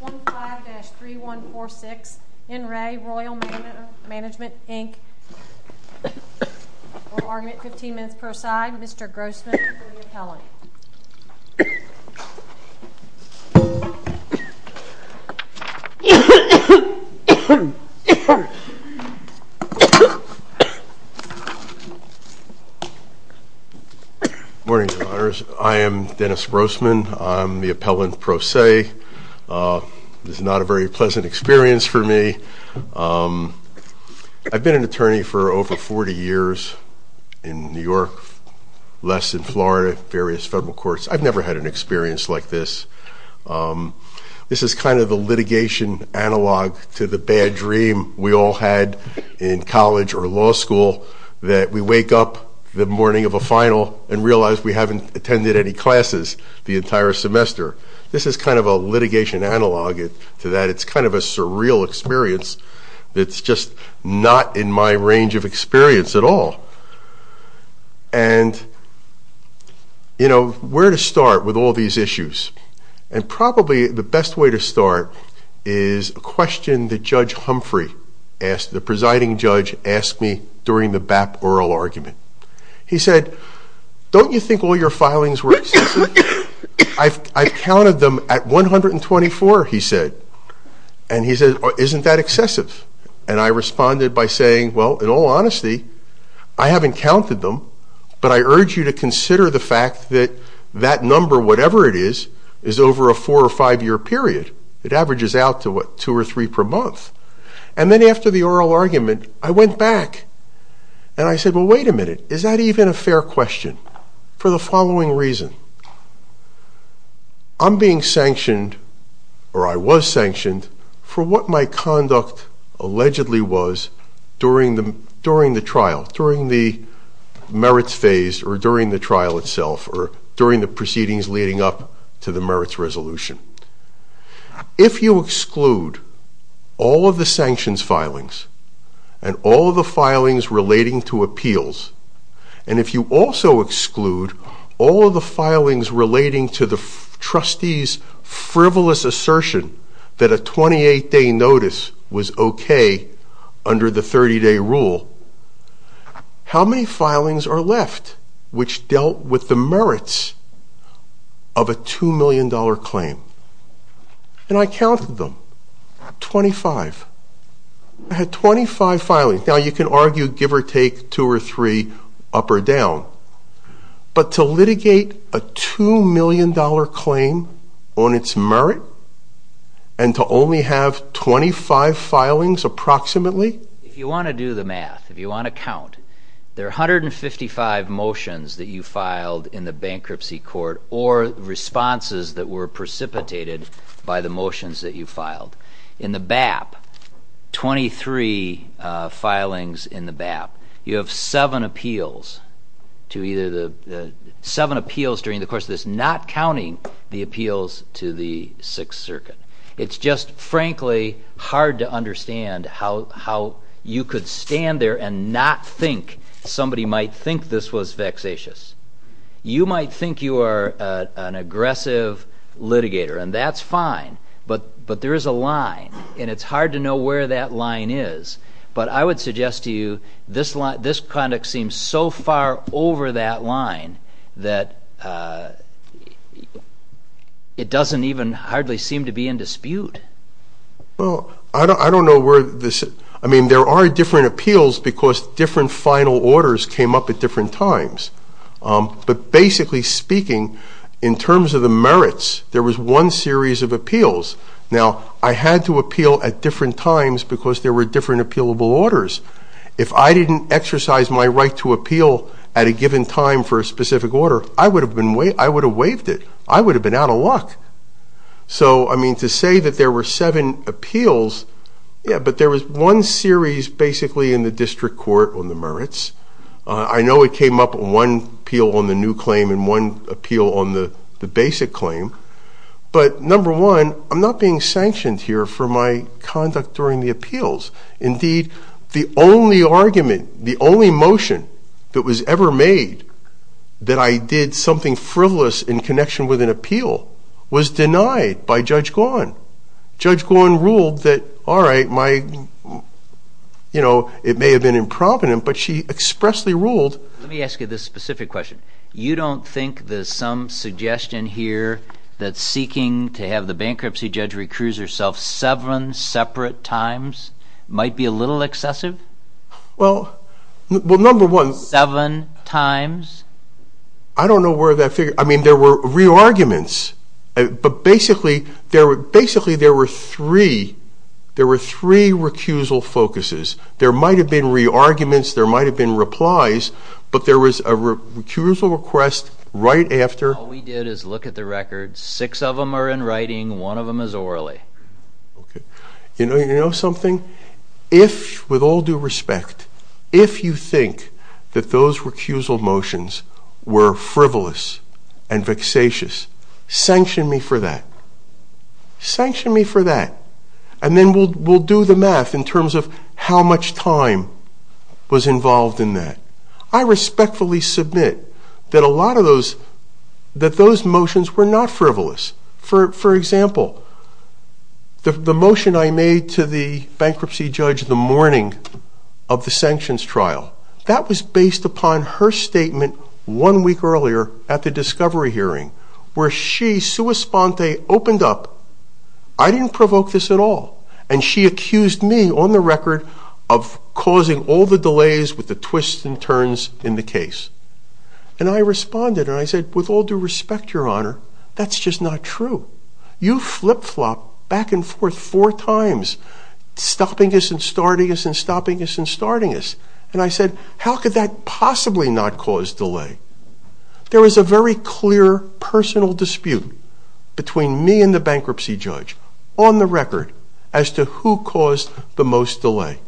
15-3146 N. Ray Royal Manor Management Inc. Oral argument, 15 minutes per side. Mr. Grossman for the appellant. Morning, Your Honors. I am Dennis Grossman. I'm the appellant pro se. This is not a very pleasant experience for me. I've been an attorney for over 40 years in New York, less in Florida, various federal courts. I've never had an experience like this. This is kind of the litigation analog to the bad dream we all had in college or law school that we wake up the morning of a final and realize we haven't attended any classes the entire semester. This is kind of a litigation analog to that. It's kind of a surreal experience that's just not in my range of experience at all. And where to start with all these issues? And probably the best way to start is a question that Judge Humphrey, the presiding judge, asked me during the BAP oral argument. He said, don't you think all your filings were excessive? I've counted them at 124, he said. And he said, isn't that excessive? And I responded by saying, well, in all honesty, I haven't counted them, but I urge you to consider the fact that that number, whatever it is, is over a four- or five-year period. It averages out to, what, two or three per month. And then after the oral argument, I went back and I said, well, wait a minute. Is that even a fair question? For the following reason. I'm being sanctioned, or I was sanctioned, for what my conduct allegedly was during the trial, during the merits phase, or during the trial itself, or during the proceedings leading up to the merits resolution. If you exclude all of the sanctions filings, and all of the filings relating to appeals, and if you also exclude all of the filings relating to the trustee's frivolous assertion that a 28-day notice was okay under the 30-day rule, how many filings are left which dealt with the merits of a $2 million claim? And I counted them. 25. I had 25 filings. Now, you can argue give or take, two or three, up or down. But to litigate a $2 million claim on its merit, and to only have 25 filings approximately? If you want to do the math, if you want to count, there are 155 motions that you filed in the bankruptcy court, or responses that were precipitated by the motions that you filed. In the BAP, 23 filings in the BAP. You have seven appeals during the course of this, not counting the appeals to the Sixth Circuit. It's just, frankly, hard to understand how you could stand there and not think somebody might think this was vexatious. You might think you are an aggressive litigator, and that's fine, but there is a line, and it's hard to know where that line is. But I would suggest to you, this conduct seems so far over that line that it doesn't even hardly seem to be in dispute. Well, I don't know where this... I mean, there are different appeals because different final orders came up at different times. But basically speaking, in terms of the merits, there was one series of appeals. Now, I had to appeal at different times because there were different appealable orders. If I didn't exercise my right to appeal at a given time for a specific order, I would have waived it. I would have been out of luck. So, I mean, to say that there were seven appeals... Yeah, but there was one series basically in the district court on the merits. I know it came up in one appeal on the new claim and one appeal on the basic claim. But, number one, I'm not being sanctioned here for my conduct during the appeals. Indeed, the only argument, the only motion that was ever made that I did something frivolous in connection with an appeal was denied by Judge Gawin. Judge Gawin ruled that, all right, it may have been impromptu, but she expressly ruled... Let me ask you this specific question. You don't think there's some suggestion here that seeking to have the bankruptcy judge recuse herself seven separate times might be a little excessive? Well, number one... I don't know where that figure... I mean, there were re-arguments, but basically there were three recusal focuses. There might have been re-arguments, there might have been replies, but there was a recusal request right after... Six of them are in writing, one of them is orally. You know something? If, with all due respect, if you think that those recusal motions were frivolous and vexatious, sanction me for that. Sanction me for that. And then we'll do the math in terms of how much time was involved in that. I respectfully submit that a lot of those... that those motions were not frivolous. For example, the motion I made to the bankruptcy judge the morning of the sanctions trial, that was based upon her statement one week earlier at the discovery hearing, where she, sua sponte, opened up, I didn't provoke this at all, and she accused me, on the record, of causing all the delays with the twists and turns in the case. And I responded, and I said, with all due respect, Your Honor, that's just not true. You flip-flop back and forth four times, stopping us and starting us and stopping us and starting us. And I said, how could that possibly not cause delay? There was a very clear personal dispute between me and the bankruptcy judge, on the record, as to who caused the most delay.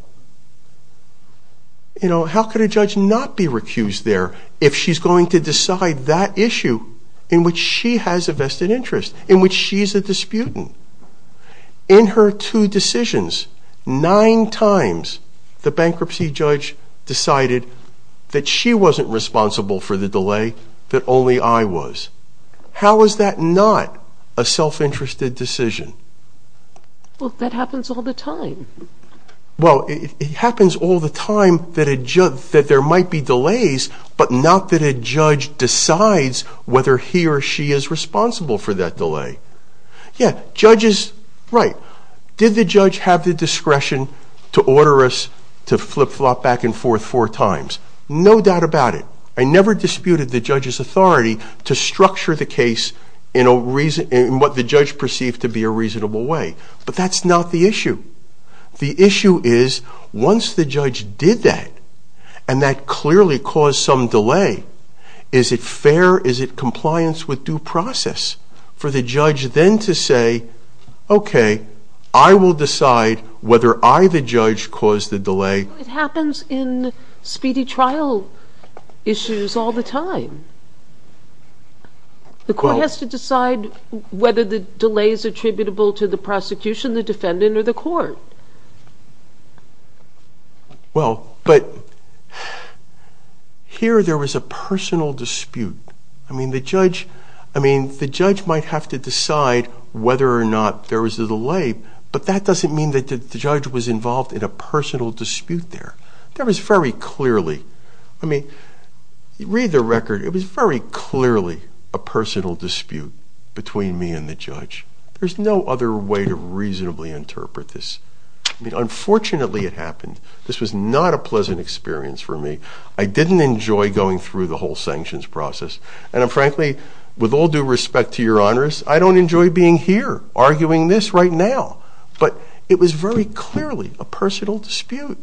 You know, how could a judge not be recused there if she's going to decide that issue in which she has a vested interest, in which she's a disputant? In her two decisions, nine times, the bankruptcy judge decided that she wasn't responsible for the delay, that only I was. How is that not a self-interested decision? Well, that happens all the time. Well, it happens all the time that there might be delays, but not that a judge decides whether he or she is responsible for that delay. Yeah, judges, right. Did the judge have the discretion to order us to flip-flop back and forth four times? No doubt about it. I never disputed the judge's authority to structure the case in what the judge perceived to be a reasonable way. But that's not the issue. The issue is, once the judge did that, and that clearly caused some delay, is it fair, is it compliance with due process for the judge then to say, okay, I will decide whether I, the judge, caused the delay. It happens in speedy trial issues all the time. The court has to decide whether the delay is attributable to the prosecution, the defendant, or the court. Well, but here there was a personal dispute. I mean, the judge might have to decide whether or not there was a delay, but that doesn't mean that the judge was involved in a personal dispute there. There was very clearly, I mean, read the record. It was very clearly a personal dispute between me and the judge. There's no other way to reasonably interpret this. I mean, unfortunately it happened. This was not a pleasant experience for me. I didn't enjoy going through the whole sanctions process. And frankly, with all due respect to your honors, I don't enjoy being here arguing this right now. But it was very clearly a personal dispute.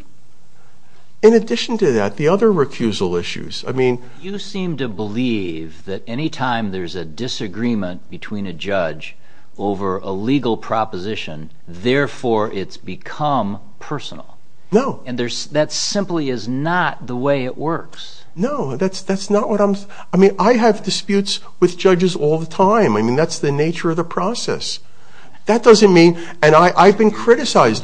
In addition to that, the other recusal issues, I mean... You seem to believe that any time there's a disagreement between a judge over a legal proposition, therefore it's become personal. No. And that simply is not the way it works. No, that's not what I'm, I mean, I have disputes with judges all the time. I mean, that's the nature of the process. That doesn't mean, and I've been criticized...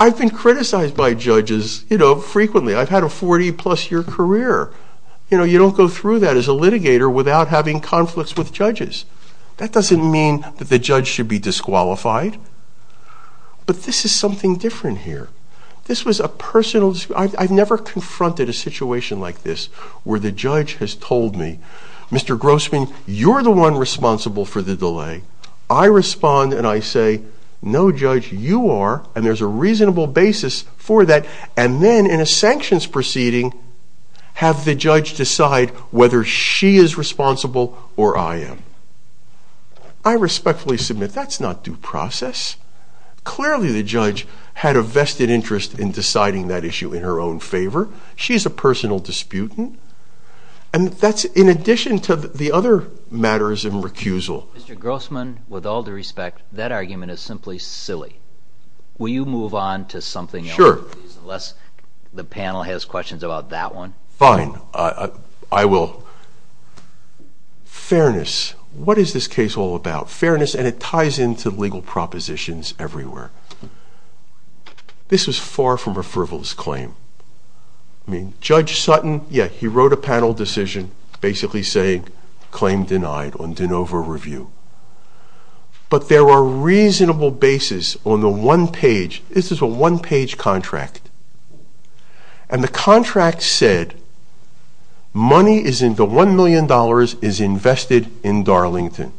I've been criticized by judges, you know, frequently. I've had a 40-plus year career. You know, you don't go through that as a litigator without having conflicts with judges. That doesn't mean that the judge should be disqualified. But this is something different here. This was a personal, I've never confronted a situation like this where the judge has told me, Mr. Grossman, you're the one responsible for the delay. I respond and I say, no judge, you are, and there's a reasonable basis for that. And then in a sanctions proceeding, have the judge decide whether she is responsible or I am. I respectfully submit that's not due process. Clearly the judge had a vested interest in deciding that issue in her own favor. She's a personal disputant. And that's in addition to the other matters in recusal. Mr. Grossman, with all due respect, that argument is simply silly. Will you move on to something else? Sure. Unless the panel has questions about that one. Fine. I will. Fairness. What is this case all about? Fairness, and it ties into legal propositions everywhere. This was far from a frivolous claim. I mean, Judge Sutton, yeah, he wrote a panel decision basically saying claim denied on de novo review. But there were reasonable basis on the one page, this is a one page contract. And the contract said, money is in the $1 million is invested in Darlington.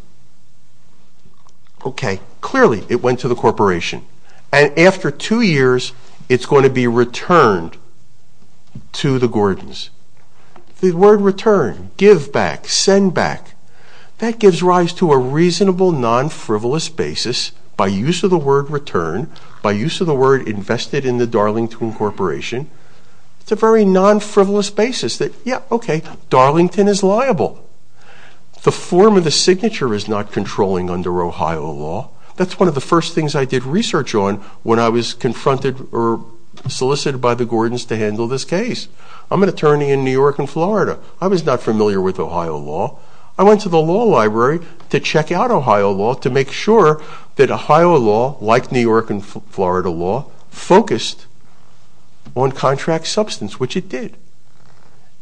Okay, clearly it went to the corporation. And after two years, it's going to be returned to the Gordons. The word return, give back, send back, that gives rise to a reasonable non-frivolous basis by use of the word return, by use of the word invested in the Darlington Corporation. It's a very non-frivolous basis that, yeah, okay, Darlington is liable. The form of the signature is not controlling under Ohio law. That's one of the first things I did research on when I was confronted or solicited by the Gordons to handle this case. I'm an attorney in New York and Florida. I was not familiar with Ohio law. I went to the law library to check out Ohio law to make sure that Ohio law, like New York and Florida law, focused on contract substance, which it did.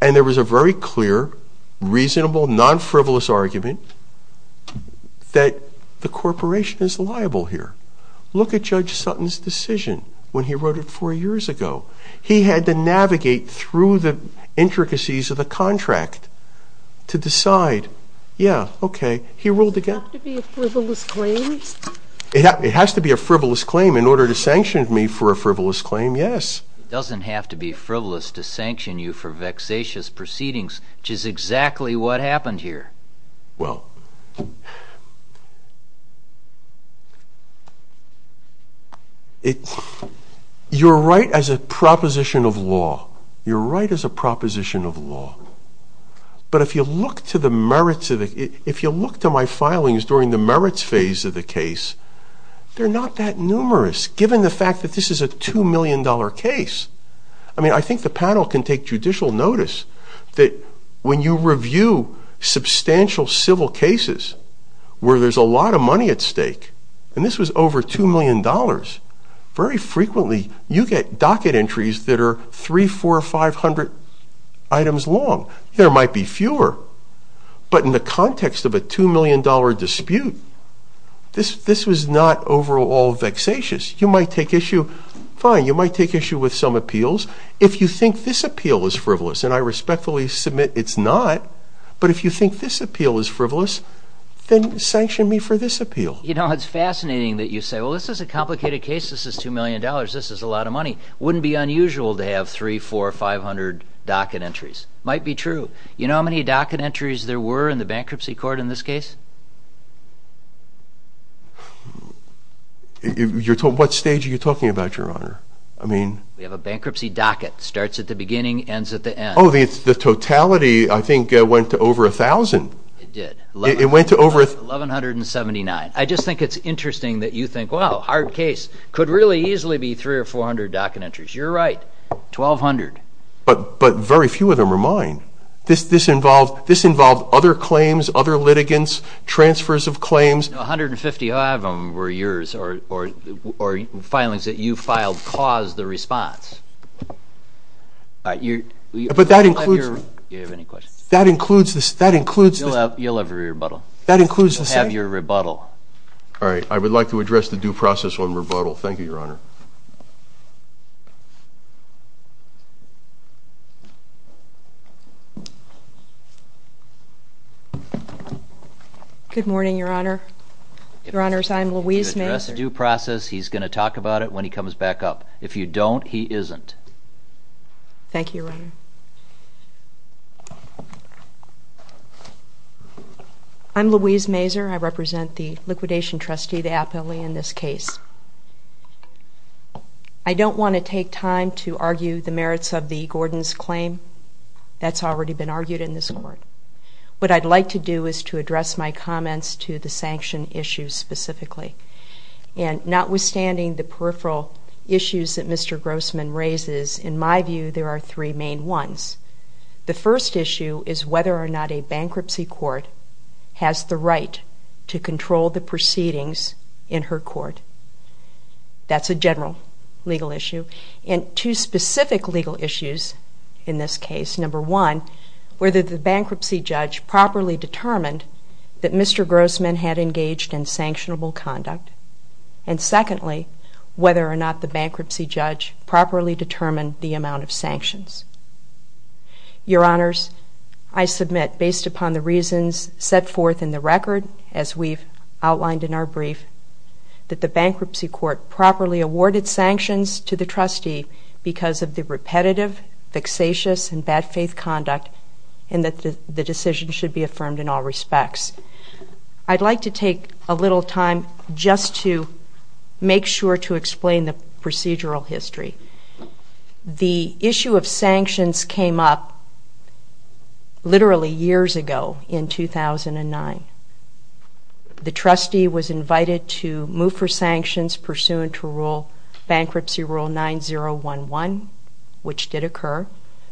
And there was a very clear, reasonable, non-frivolous argument that the corporation is liable here. Look at Judge Sutton's decision when he wrote it four years ago. He had to navigate through the intricacies of the contract to decide, yeah, okay, he ruled again. Does it have to be a frivolous claim? It has to be a frivolous claim. In order to sanction me for a frivolous claim, yes. It doesn't have to be frivolous to sanction you for vexatious proceedings, which is exactly what happened here. Well, you're right as a proposition of law. You're right as a proposition of law. But if you look to the merits of it, if you look to my filings during the merits phase of the case, they're not that numerous, given the fact that this is a $2 million case. I mean, I think the panel can take judicial notice that when you review substantial civil cases where there's a lot of money at stake, and this was over $2 million, very frequently you get docket entries that are three, four, five hundred items long. There might be fewer. But in the context of a $2 million dispute, this was not overall vexatious. You might take issue with some appeals. If you think this appeal is frivolous, and I respectfully submit it's not, but if you think this appeal is frivolous, then sanction me for this appeal. You know, it's fascinating that you say, well, this is a complicated case. This is $2 million. This is a lot of money. It wouldn't be unusual to have three, four, five hundred docket entries. It might be true. You know how many docket entries there were in the bankruptcy court in this case? What stage are you talking about, Your Honor? We have a bankruptcy docket. It starts at the beginning, ends at the end. Oh, the totality, I think, went to over 1,000. It did. It went to over 1,179. I just think it's interesting that you think, well, hard case. Could really easily be three or four hundred docket entries. You're right, 1,200. But very few of them are mine. This involved other claims, other litigants, transfers of claims. No, 155 of them were yours or filings that you filed caused the response. All right. But that includes. Do you have any questions? That includes. You'll have your rebuttal. That includes. You'll have your rebuttal. All right. I would like to address the due process on rebuttal. Thank you, Your Honor. Good morning, Your Honor. Your Honors, I'm Louise Mazur. You can address due process. He's going to talk about it when he comes back up. If you don't, he isn't. Thank you, Your Honor. I'm Louise Mazur. I represent the liquidation trustee, the appellee in this case. I don't want to take time to argue the merits of the Gordon's claim. That's already been argued in this court. What I'd like to do is to address my comments to the sanction issue specifically. And notwithstanding the peripheral issues that Mr. Grossman raises, in my view, there are three main ones. The first issue is whether or not a bankruptcy court has the right to control the proceedings in her court. That's a general legal issue. And two specific legal issues in this case. Number one, whether the bankruptcy judge properly determined that Mr. Grossman had engaged in sanctionable conduct. And secondly, whether or not the bankruptcy judge properly determined the amount of sanctions. Your Honors, I submit based upon the reasons set forth in the record, as we've outlined in our brief, that the bankruptcy court properly awarded sanctions to the trustee because of the repetitive, vexatious, and bad faith conduct, and that the decision should be affirmed in all respects. I'd like to take a little time just to make sure to explain the procedural history. The issue of sanctions came up literally years ago in 2009. The trustee was invited to move for sanctions pursuant to bankruptcy rule 9011, which did occur.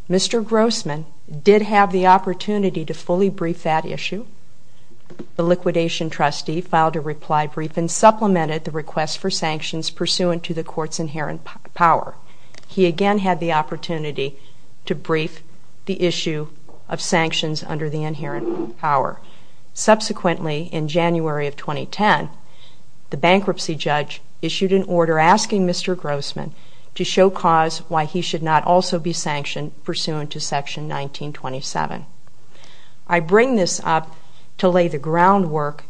Mr. Grossman did have the opportunity to fully brief that issue. The liquidation trustee filed a reply brief and supplemented the request for sanctions pursuant to the court's inherent power. He again had the opportunity to brief the issue of sanctions under the inherent power. Subsequently, in January of 2010, the bankruptcy judge issued an order asking Mr. Grossman to show cause why he should not also be sanctioned pursuant to Section 1927. I bring this up to lay the groundwork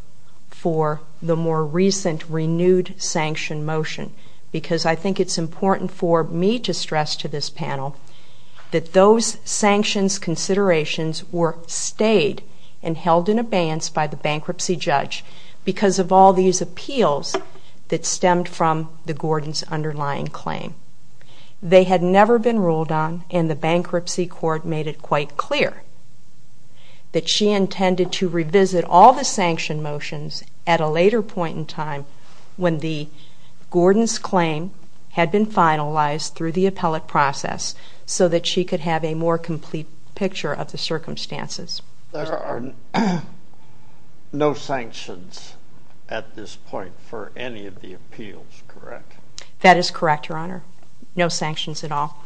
for the more recent renewed sanction motion because I think it's important for me to stress to this panel that those sanctions considerations were stayed and held in abeyance by the bankruptcy judge because of all these appeals that stemmed from the Gordons' underlying claim. They had never been ruled on and the bankruptcy court made it quite clear that she intended to revisit all the sanction motions at a later point in time when the Gordons' claim had been finalized through the appellate process so that she could have a more complete picture of the circumstances. There are no sanctions at this point for any of the appeals, correct? That is correct, Your Honor. No sanctions at all.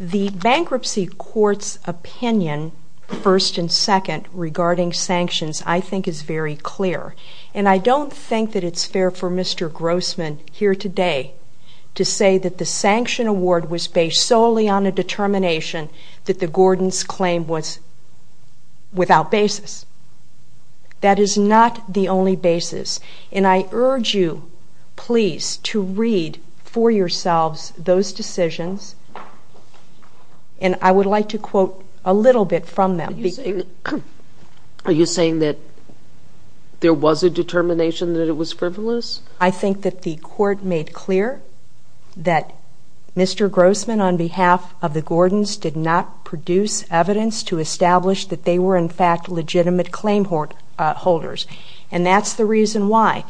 The bankruptcy court's opinion, first and second, regarding sanctions I think is very clear and I don't think that it's fair for Mr. Grossman here today to say that the sanction award was based solely on a determination that the Gordons' claim was without basis. That is not the only basis and I urge you please to read for yourselves those decisions and I would like to quote a little bit from them. Are you saying that there was a determination that it was frivolous? I think that the court made clear that Mr. Grossman on behalf of the Gordons did not produce evidence to establish that they were in fact legitimate claim holders and that's the reason why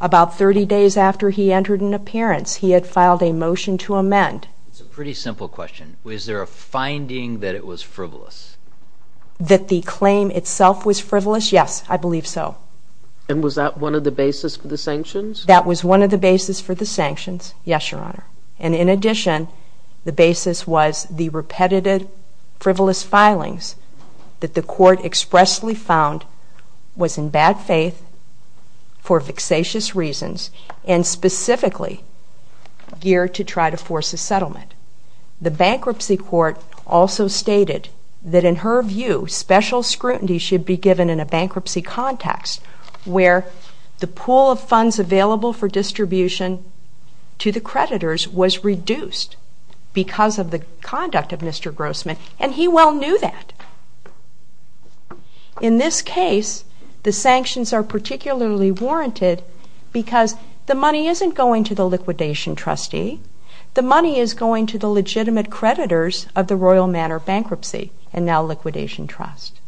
about 30 days after he entered an appearance he had filed a motion to amend. It's a pretty simple question. Was there a finding that it was frivolous? That the claim itself was frivolous? Yes, I believe so. And was that one of the basis for the sanctions? That was one of the basis for the sanctions. Yes, Your Honor. And in addition, the basis was the repetitive frivolous filings that the court expressly found was in bad faith for vexatious reasons and specifically geared to try to force a settlement. The bankruptcy court also stated that in her view, special scrutiny should be given in a bankruptcy context where the pool of funds available for distribution to the creditors was reduced because of the conduct of Mr. Grossman and he well knew that. In this case, the sanctions are particularly warranted because the money isn't going to the liquidation trustee. The money is going to the legitimate creditors of the Royal Manor bankruptcy and now liquidation trust.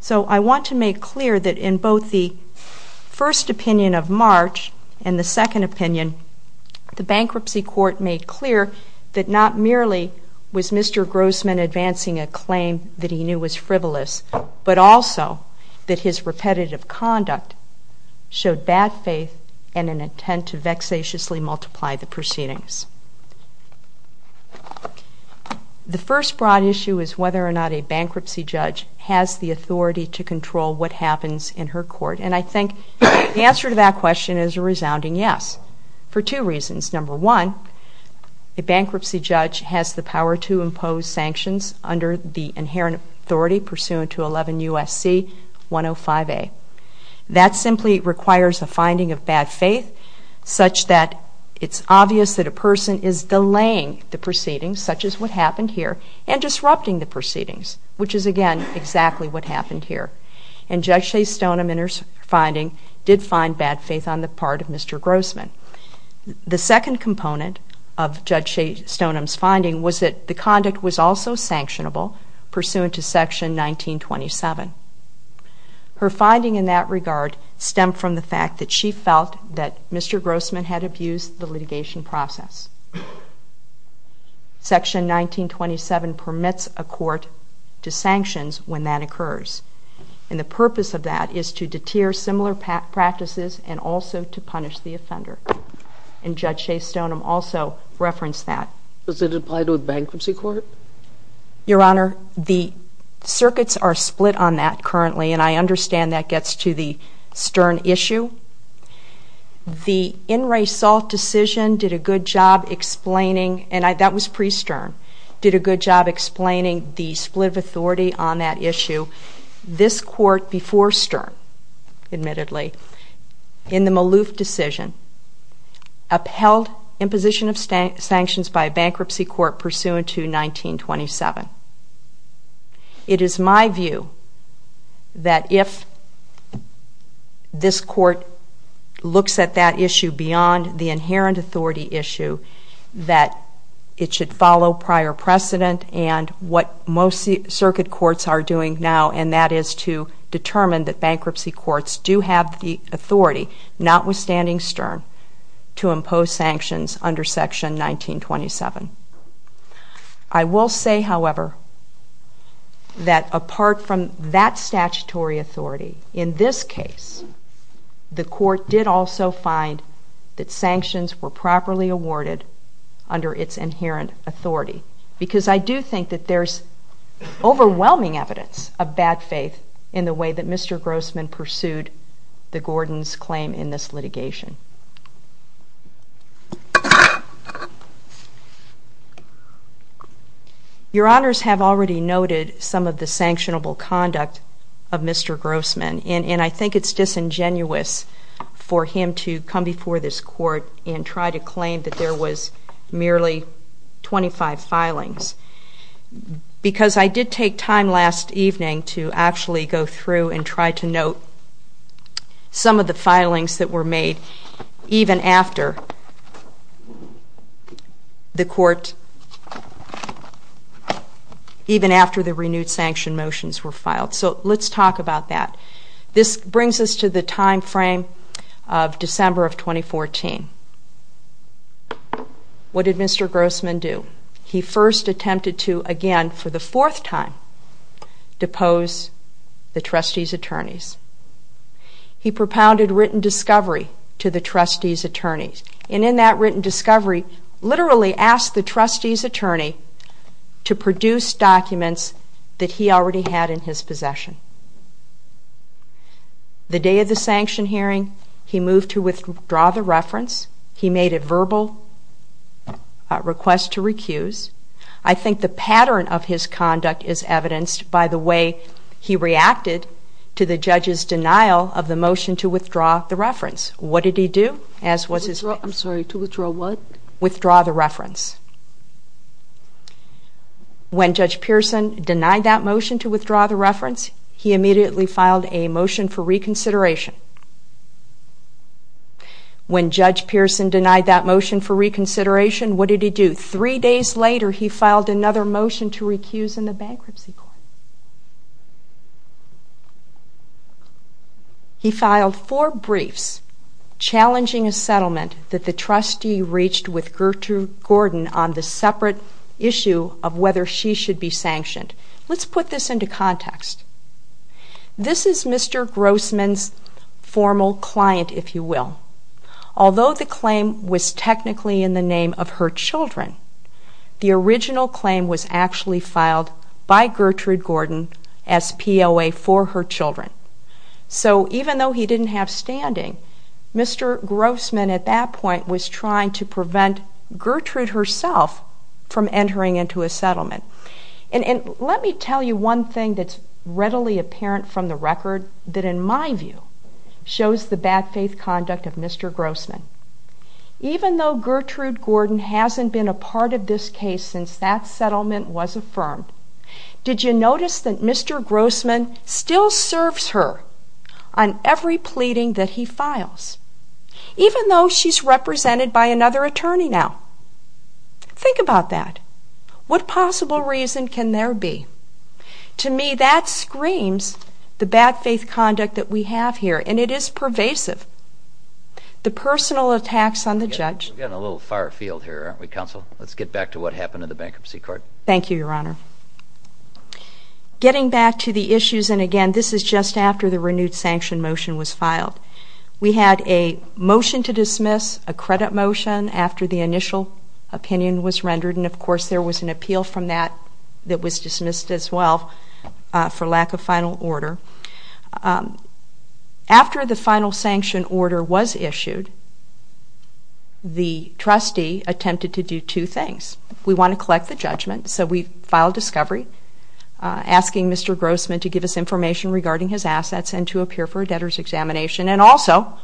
So I want to make clear that in both the first opinion of March and the second opinion, the bankruptcy court made clear that not merely was Mr. Grossman advancing a claim that he knew was frivolous, but also that his repetitive conduct showed bad faith and an intent to vexatiously multiply the proceedings. The first broad issue is whether or not a bankruptcy judge has the authority to control what happens in her court and I think the answer to that question is a resounding yes for two reasons. Number one, a bankruptcy judge has the power to impose sanctions under the inherent authority pursuant to 11 U.S.C. 105A. That simply requires a finding of bad faith such that it's obvious that a person is delaying the proceedings, such as what happened here, and disrupting the proceedings, which is again exactly what happened here. And Judge Shea-Stoneham in her finding did find bad faith on the part of Mr. Grossman. The second component of Judge Shea-Stoneham's finding was that the conduct was also sanctionable pursuant to Section 1927. Her finding in that regard stemmed from the fact that she felt that Mr. Grossman had abused the litigation process. Section 1927 permits a court to sanctions when that occurs and the purpose of that is to deter similar practices and also to punish the offender. And Judge Shea-Stoneham also referenced that. Does it apply to a bankruptcy court? Your Honor, the circuits are split on that currently and I understand that gets to the Stern issue. The In re Salt decision did a good job explaining, and that was pre-Stern, did a good job explaining the split of authority on that issue. This court before Stern, admittedly, in the Maloof decision, upheld imposition of sanctions by a bankruptcy court pursuant to 1927. It is my view that if this court looks at that issue beyond the inherent authority issue, that it should follow prior precedent and what most circuit courts are doing now, and that is to determine that bankruptcy courts do have the authority, notwithstanding Stern, to impose sanctions under Section 1927. I will say, however, that apart from that statutory authority, in this case the court did also find that sanctions were properly awarded under its inherent authority. Because I do think that there's overwhelming evidence of bad faith in the way that Mr. Grossman pursued the Gordons' claim in this litigation. Your Honors have already noted some of the sanctionable conduct of Mr. Grossman, and I think it's disingenuous for him to come before this court and try to claim that there was merely 25 filings. Because I did take time last evening to actually go through and try to note some of the filings that were made even after the court, even after the renewed sanction motions were filed. So let's talk about that. This brings us to the time frame of December of 2014. What did Mr. Grossman do? He first attempted to, again for the fourth time, depose the trustee's attorneys. He propounded written discovery to the trustee's attorneys. And in that written discovery, literally asked the trustee's attorney to produce documents that he already had in his possession. The day of the sanction hearing, he moved to withdraw the reference. He made a verbal request to recuse. I think the pattern of his conduct is evidenced by the way he reacted to the judge's denial of the motion to withdraw the reference. What did he do? I'm sorry, to withdraw what? Withdraw the reference. When Judge Pearson denied that motion to withdraw the reference, he immediately filed a motion for reconsideration. When Judge Pearson denied that motion for reconsideration, what did he do? Three days later, he filed another motion to recuse in the bankruptcy court. He filed four briefs challenging a settlement that the trustee reached with Gertrude Gordon on the separate issue of whether she should be sanctioned. Let's put this into context. This is Mr. Grossman's formal client, if you will. Although the claim was technically in the name of her children, the original claim was actually filed by Gertrude Gordon as POA for her children. So even though he didn't have standing, Mr. Grossman at that point was trying to prevent Gertrude herself from entering into a settlement. Let me tell you one thing that's readily apparent from the record that in my view shows the bad faith conduct of Mr. Grossman. Even though Gertrude Gordon hasn't been a part of this case since that settlement was affirmed, did you notice that Mr. Grossman still serves her on every pleading that he files, even though she's represented by another attorney now? Think about that. What possible reason can there be? To me, that screams the bad faith conduct that we have here, and it is pervasive. The personal attacks on the judge... We're getting a little far afield here, aren't we, Counsel? Let's get back to what happened in the Bankruptcy Court. Thank you, Your Honor. Getting back to the issues, and again, this is just after the renewed sanction motion was filed. We had a motion to dismiss, a credit motion after the initial opinion was rendered, and of course there was an appeal from that that was dismissed as well for lack of final order. After the final sanction order was issued, the trustee attempted to do two things. We want to collect the judgment, so we filed discovery, asking Mr. Grossman to give us information regarding his assets and to appear for a debtor's examination, and also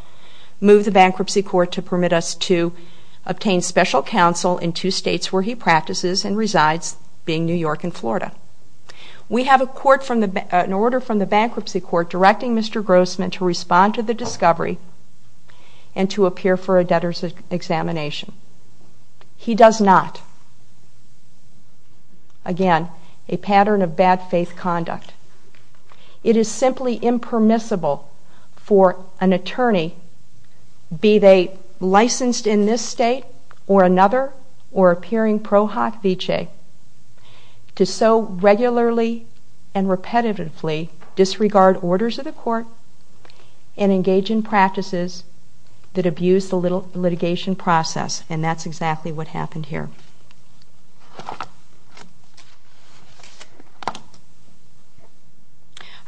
move the Bankruptcy Court to permit us to obtain special counsel in two states where he practices and resides, being New York and Florida. We have an order from the Bankruptcy Court directing Mr. Grossman to respond to the discovery and to appear for a debtor's examination. He does not. Again, a pattern of bad faith conduct. It is simply impermissible for an attorney, be they licensed in this state or another or appearing pro hoc vicee, to so regularly and repetitively disregard orders of the court and engage in practices that abuse the litigation process, and that's exactly what happened here.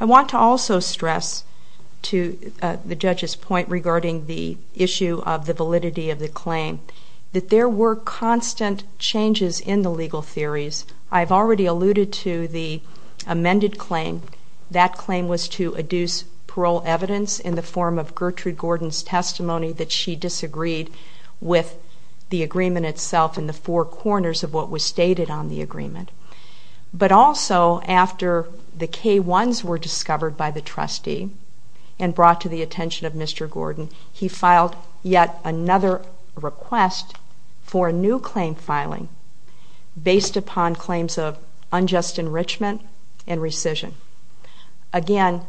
I want to also stress to the judge's point regarding the issue of the validity of the claim that there were constant changes in the legal theories. I've already alluded to the amended claim. That claim was to adduce parole evidence in the form of Gertrude Gordon's testimony that she disagreed with the agreement itself in the four corners of what was stated on the agreement. But also, after the K-1s were discovered by the trustee and brought to the attention of Mr. Gordon, he filed yet another request for a new claim filing based upon claims of unjust enrichment and rescission. Again,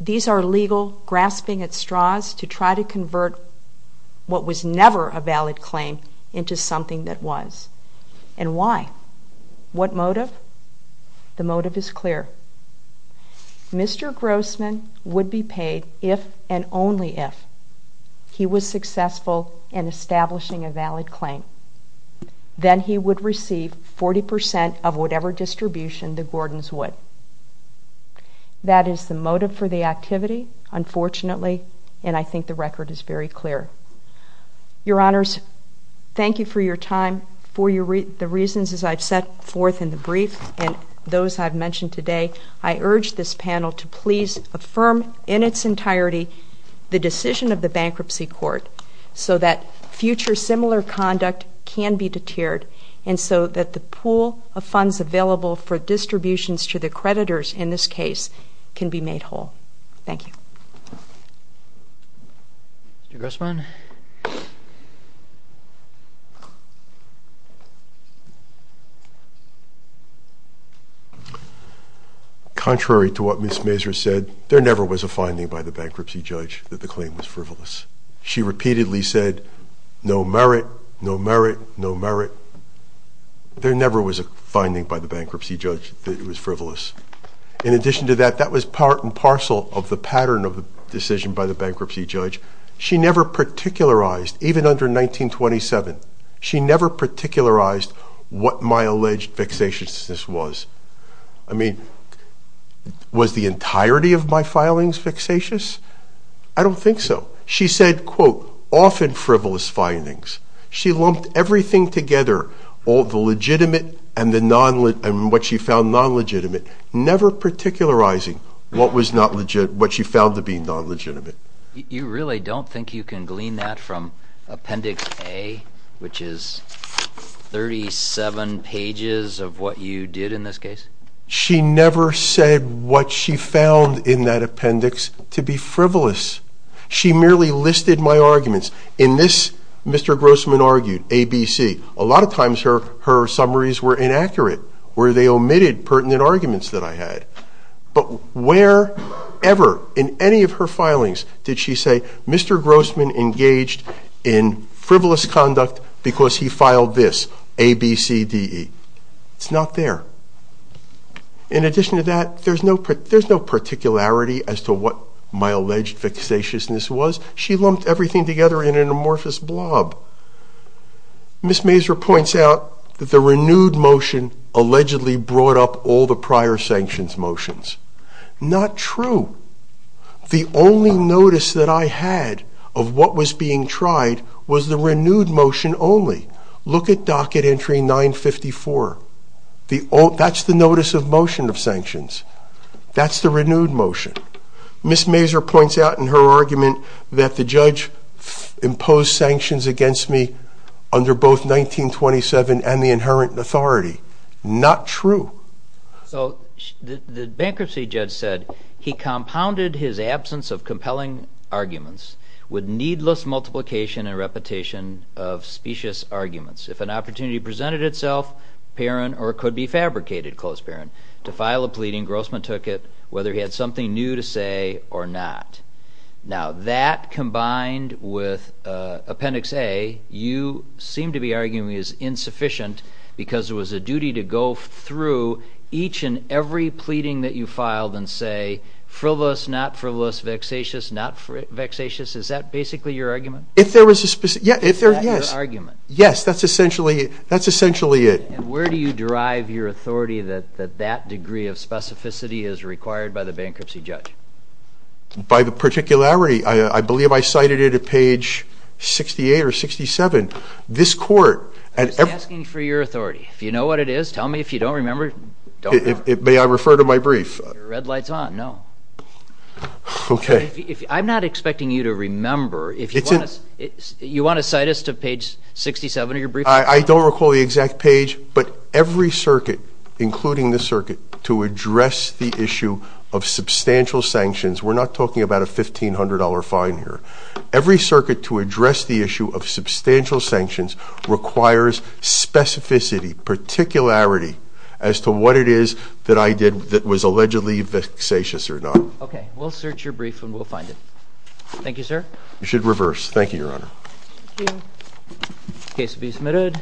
these are legal grasping at straws to try to convert what was never a valid claim into something that was. And why? What motive? The motive is clear. Mr. Grossman would be paid if and only if he was successful in establishing a valid claim. Then he would receive 40% of whatever distribution the Gordons would. That is the motive for the activity, unfortunately, and I think the record is very clear. Your Honors, thank you for your time. For the reasons as I've set forth in the brief and those I've mentioned today, I urge this panel to please affirm in its entirety the decision of the Bankruptcy Court so that future similar conduct can be deterred and so that the pool of funds available for distributions to the creditors in this case can be made whole. Thank you. Mr. Grossman? Contrary to what Ms. Mazur said, there never was a finding by the bankruptcy judge that the claim was frivolous. She repeatedly said, no merit, no merit, no merit. There never was a finding by the bankruptcy judge that it was frivolous. In addition to that, that was part and parcel of the pattern of the decision by the bankruptcy judge. She never particularized, even under 1927, she never particularized what my alleged vexatiousness was. I mean, was the entirety of my filings vexatious? I don't think so. She said, quote, often frivolous findings. She lumped everything together, all the legitimate and what she found non-legitimate, never particularizing what she found to be non-legitimate. You really don't think you can glean that from Appendix A, which is 37 pages of what you did in this case? She never said what she found in that appendix to be frivolous. She merely listed my arguments. In this, Mr. Grossman argued, ABC. A lot of times her summaries were inaccurate, where they omitted pertinent arguments that I had. But wherever in any of her filings did she say, Mr. Grossman engaged in frivolous conduct because he filed this, ABCDE? It's not there. In addition to that, there's no particularity as to what my alleged vexatiousness was. She lumped everything together in an amorphous blob. Ms. Mazur points out that the renewed motion allegedly brought up all the prior sanctions motions. Not true. The only notice that I had of what was being tried was the renewed motion only. Look at Docket Entry 954. That's the notice of motion of sanctions. That's the renewed motion. Ms. Mazur points out in her argument that the judge imposed sanctions against me under both 1927 and the inherent authority. Not true. So the bankruptcy judge said he compounded his absence of compelling arguments with needless multiplication and repetition of specious arguments. If an opportunity presented itself, apparent or could be fabricated, close apparent, to file a pleading, Grossman took it, whether he had something new to say or not. Now, that combined with Appendix A, you seem to be arguing is insufficient because it was a duty to go through each and every pleading that you filed and say frivolous, not frivolous, vexatious, not vexatious. Is that basically your argument? If there was a specious, yes. Is that your argument? Yes, that's essentially it. Where do you derive your authority that that degree of specificity is required by the bankruptcy judge? By the particularity. I believe I cited it at page 68 or 67. This court. I'm just asking for your authority. If you know what it is, tell me. If you don't remember, don't remember. May I refer to my brief? Your red light's on. No. Okay. I'm not expecting you to remember. You want to cite us to page 67 of your brief? I don't recall the exact page, but every circuit, including this circuit, to address the issue of substantial sanctions, we're not talking about a $1,500 fine here. Every circuit to address the issue of substantial sanctions requires specificity, particularity, as to what it is that I did that was allegedly vexatious or not. Okay. We'll search your brief and we'll find it. Thank you, sir. You should reverse. Thank you, Your Honor. Thank you. Case to be submitted.